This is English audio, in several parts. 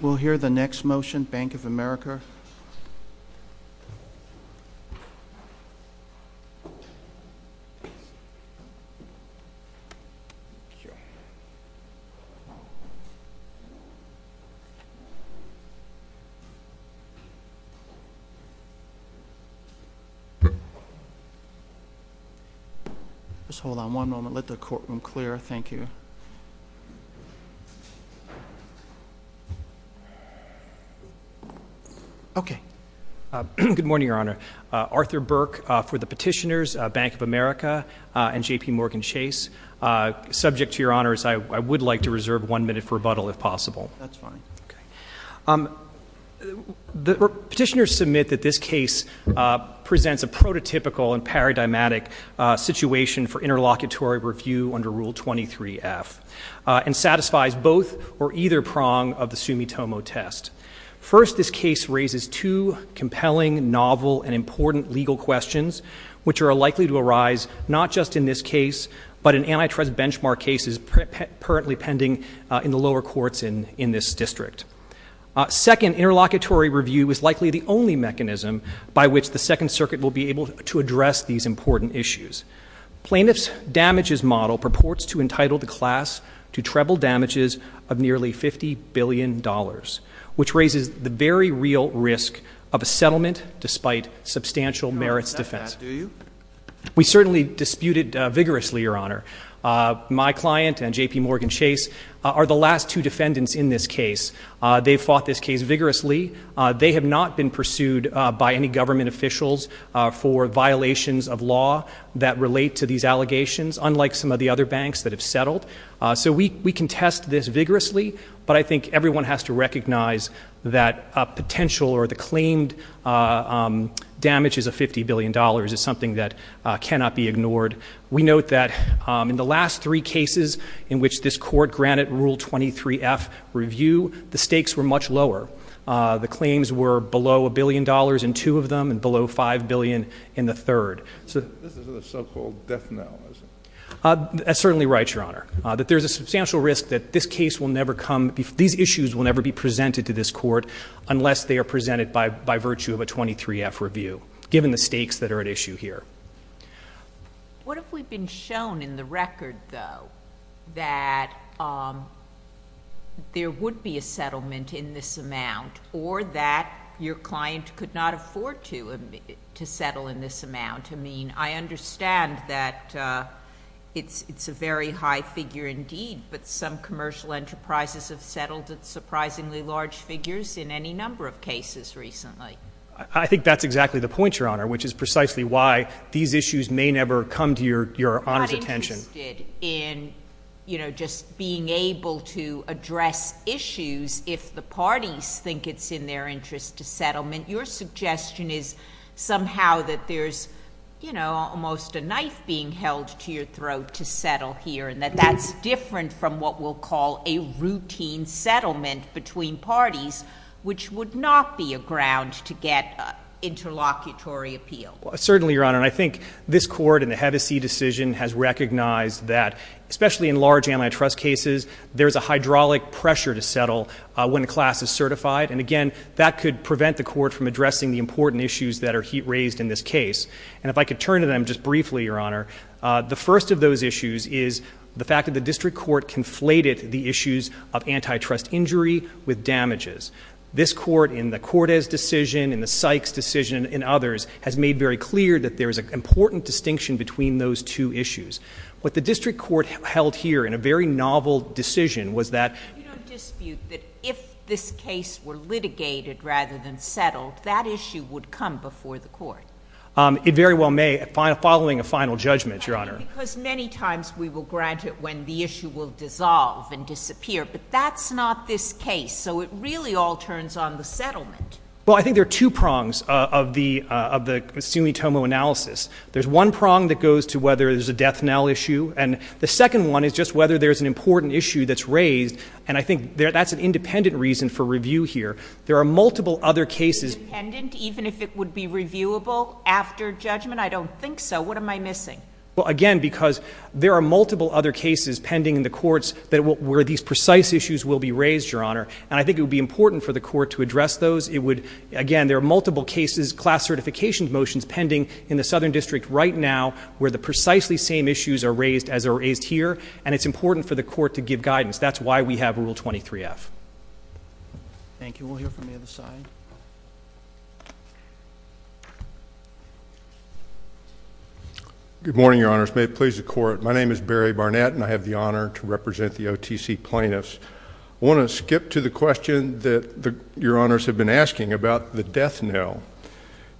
We'll hear the next motion, Bank of America. Just hold on one moment. Let the courtroom clear. Thank you. Thank you. OK. Good morning, Your Honor. Arthur Burke for the petitioners, Bank of America and JPMorgan Chase. Subject to your honors, I would like to reserve one minute for rebuttal, if possible. That's fine. OK. The petitioners submit that this case presents a prototypical and paradigmatic situation for interlocutory review under Rule 23-F and satisfies both or either prong of the Sumitomo test. First, this case raises two compelling, novel, and important legal questions, which are likely to arise not just in this case, but in antitrust benchmark cases currently pending in the lower courts in this district. Second, interlocutory review is likely the only mechanism by which the Second Circuit will be able to address these important issues. Plaintiff's damages model purports to entitle the class to treble damages of nearly $50 billion, which raises the very real risk of a settlement despite substantial merits defense. You don't accept that, do you? We certainly dispute it vigorously, Your Honor. My client and JPMorgan Chase are the last two defendants in this case. They fought this case vigorously. They have not been pursued by any government officials for violations of law that relate to these allegations, unlike some of the other banks that have settled. So we contest this vigorously, but I think everyone has to recognize that a potential or the claimed damages of $50 billion is something that cannot be ignored. We note that in the last three cases in which this court granted Rule 23F review, the stakes were much lower. The claims were below $1 billion in two of them and below $5 billion in the third. This is a so-called death knell, is it? That's certainly right, Your Honor. There's a substantial risk that this case will never come, these issues will never be presented to this court unless they are presented by virtue of a 23F review, given the stakes that are at issue here. What if we've been shown in the record, though, that there would be a settlement in this amount or that your client could not afford to settle in this amount? I mean, I understand that it's a very high figure indeed, but some commercial enterprises have settled at surprisingly large figures in any number of cases recently. I think that's exactly the point, Your Honor, which is precisely why these issues may never come to Your Honor's attention. I'm not interested in just being able to address issues if the parties think it's in their interest to settlement. Your suggestion is somehow that there's almost a knife being held to your throat to settle here and that that's different from what we'll call a routine settlement between parties, which would not be a ground to get interlocutory appeal. Certainly, Your Honor. And I think this court and the Hedesy decision has recognized that, especially in large antitrust cases, there's a hydraulic pressure to settle when a class is certified. And again, that could prevent the court from addressing the important issues that are raised in this case. And if I could turn to them just briefly, Your Honor, the first of those issues is the fact that the district court conflated the issues of antitrust injury with damages. This court, in the Cortes decision, in the Sykes decision, and others, has made very clear that there is an important distinction between those two issues. What the district court held here in a very novel decision was that- You don't dispute that if this case were litigated rather than settled, that issue would come before the court. It very well may, following a final judgment, Your Honor. Because many times, we will grant it when the issue will dissolve and disappear. But that's not this case. So it really all turns on the settlement. Well, I think there are two prongs of the sumitomo analysis. There's one prong that goes to whether there's a death now issue. And the second one is just whether there's an important issue that's raised. And I think that's an independent reason for review here. There are multiple other cases- Independent, even if it would be reviewable after judgment? I don't think so. What am I missing? Well, again, because there are multiple other cases pending in the courts where these precise issues will be raised, Your Honor. And I think it would be important for the court to address those. It would, again, there are multiple cases, class certification motions, pending in the Southern District right now where the precisely same issues are raised as are raised here. And it's important for the court to give guidance. That's why we have Rule 23-F. Thank you. We'll hear from the other side. Good morning, Your Honors. May it please the court. My name is Barry Barnett, and I have the honor to represent the OTC plaintiffs. I want to skip to the question that Your Honors have been asking about the death now.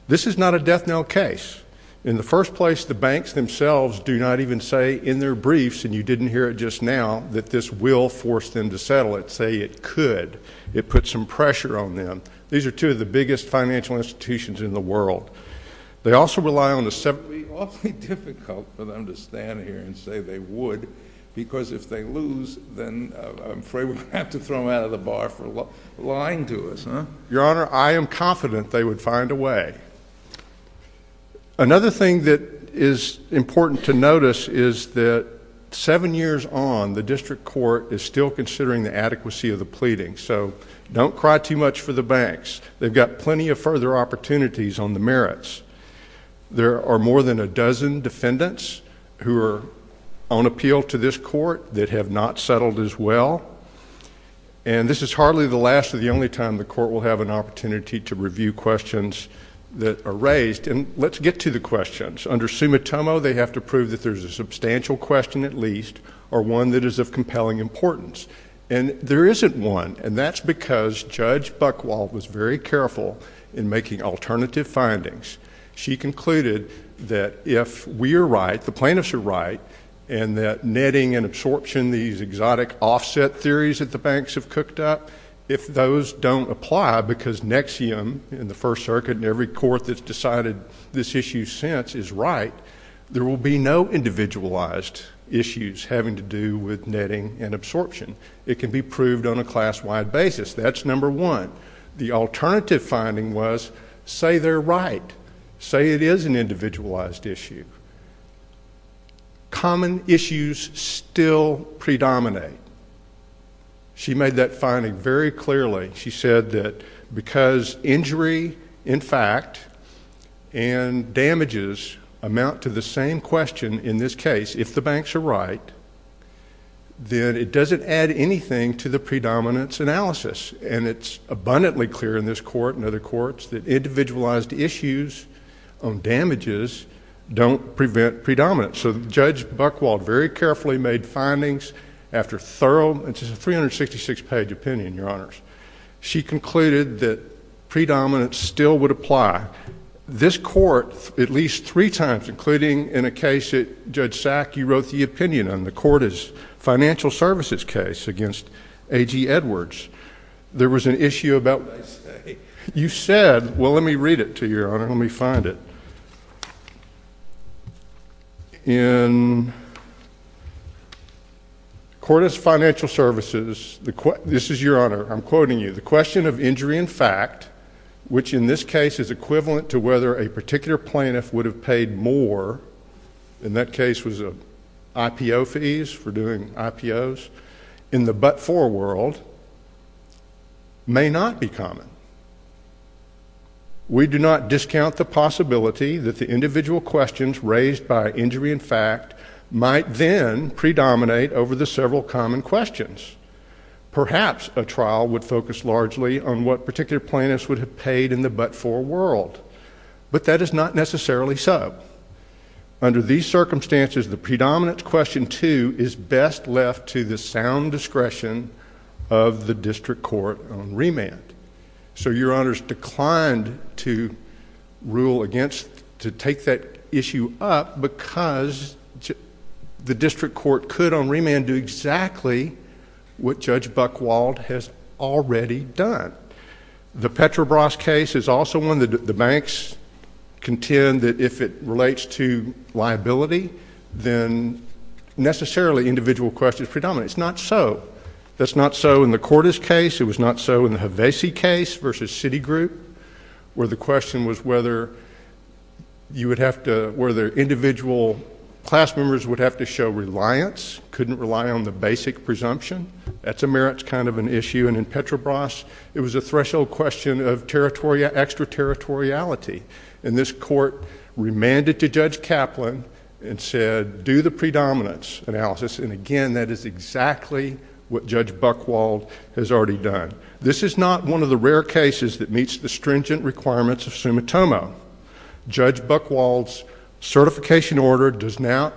This is not a death now case. In the first place, the banks themselves do not even say in their briefs, and you didn't hear it just now, that this will force them to settle. It say it could. It put some pressure on them. These are two of the biggest financial institutions in the world. They also rely on a separate. It would be awfully difficult for them to stand here and say they would, because if they lose, then I'm afraid we're going to have to throw them out of the bar for lying to us, huh? Your Honor, I am confident they would find a way. Another thing that is important to notice is that seven years on, the district court is still considering the adequacy of the pleading. So don't cry too much for the banks. They've got plenty of further opportunities on the merits. There are more than a dozen defendants who are on appeal to this court that have not settled as well. And this is hardly the last or the only time the court will have an opportunity to review questions that are raised. And let's get to the questions. Under summa tummo, they have to prove that there's a substantial question, at least, or one that is of compelling importance. And there isn't one. And that's because Judge Buchwald was very careful in making alternative findings. She concluded that if we are right, the plaintiffs are right, and that netting and absorption, these exotic offset theories that the banks have cooked up, if those don't apply, because NXIVM in the First Circuit and every court that's decided this issue since is right, there will be no individualized issues having to do with netting and absorption. It can be proved on a class-wide basis. That's number one. The alternative finding was, say they're right. Say it is an individualized issue. Common issues still predominate. She made that finding very clearly. She said that because injury, in fact, and damages amount to the same question in this case, if the banks are right, then it doesn't add anything to the predominance analysis. And it's abundantly clear in this court and other courts that individualized issues on damages don't prevent predominance. So Judge Buchwald very carefully made findings after thorough and just a 366-page opinion, Your Honors. She concluded that predominance still would apply. This court, at least three times, including in a case that Judge Sack, you wrote the opinion on the court's financial services case against AG Edwards. There was an issue about what I say. You said, well, let me read it to you, Your Honor. Let me find it. In the court of financial services, this is Your Honor, I'm quoting you. The question of injury, in fact, which in this case is equivalent to whether a particular plaintiff would have paid more, in that case was IPO fees for doing IPOs, in the but-for world may not be common. We do not discount the possibility that the individual questions raised by injury in fact might then predominate over the several common questions. Perhaps a trial would focus largely on what particular plaintiffs would have paid in the but-for world. But that is not necessarily so. Under these circumstances, the predominance question two is best left to the sound discretion of the district court on remand. So Your Honor's declined to rule against, to take that issue up because the district court could on remand do exactly what Judge Buchwald has already done. The Petrobras case is also one that the banks contend that if it relates to liability, then necessarily individual questions predominate. It's not so. That's not so in the Cordes case. It was not so in the Hevesi case versus Citigroup, where the question was whether individual class members would have to show reliance, couldn't rely on the basic presumption. That's a merits kind of an issue. And in Petrobras, it was a threshold question of extraterritoriality. And this court remanded to Judge Kaplan and said, do the predominance analysis. And again, that is exactly what Judge Buchwald has already done. This is not one of the rare cases that meets the stringent requirements of summa tomo. Judge Buchwald's certification order does not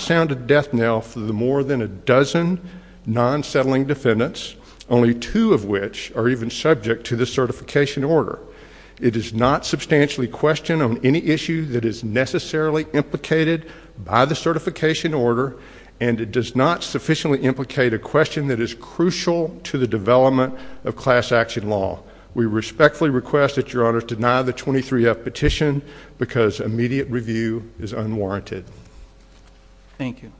sound a death knell for the more than a dozen non-settling defendants, only two of which are even subject to the certification order. It does not substantially question on any issue that is necessarily implicated by the certification order. And it does not sufficiently implicate a question that is crucial to the development of class action law. We respectfully request that Your Honor deny the 23-F petition because immediate review is unwarranted. Thank you.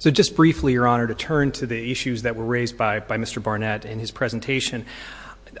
So just briefly, Your Honor, to turn to the issues that were raised by Mr. Barnett in his presentation,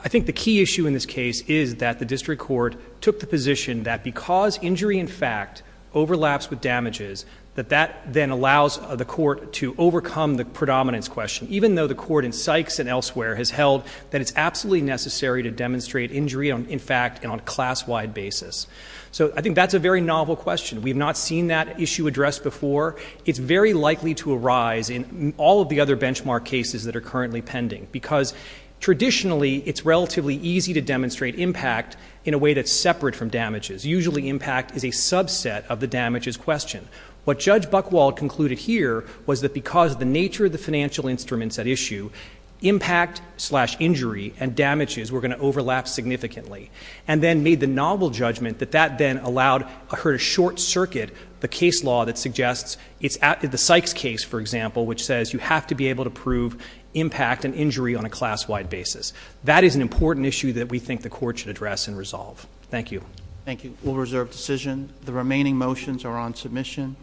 I think the key issue in this case is that the district court took the position that because injury, in fact, overlaps with damages, that that then allows the court to overcome the predominance question, even though the court in Sykes and elsewhere has held that it's absolutely necessary to demonstrate injury on, in fact, and on a class-wide basis. So I think that's a very novel question. We've not seen that issue addressed before. It's very likely to arise in all of the other benchmark cases that are currently pending. Because traditionally, it's relatively easy to demonstrate impact in a way that's separate from damages. Usually, impact is a subset of the damages question. What Judge Buchwald concluded here was that because of the nature of the financial instruments at issue, impact slash injury and damages were going to overlap significantly. And then made the novel judgment that that then allowed her to short circuit the case law that suggests it's the Sykes case, for example, which says you have to be able to prove impact and injury on a class-wide basis. That is an important issue that we think the court should address and resolve. Thank you. Thank you. All reserved decision. The remaining motions are on submission.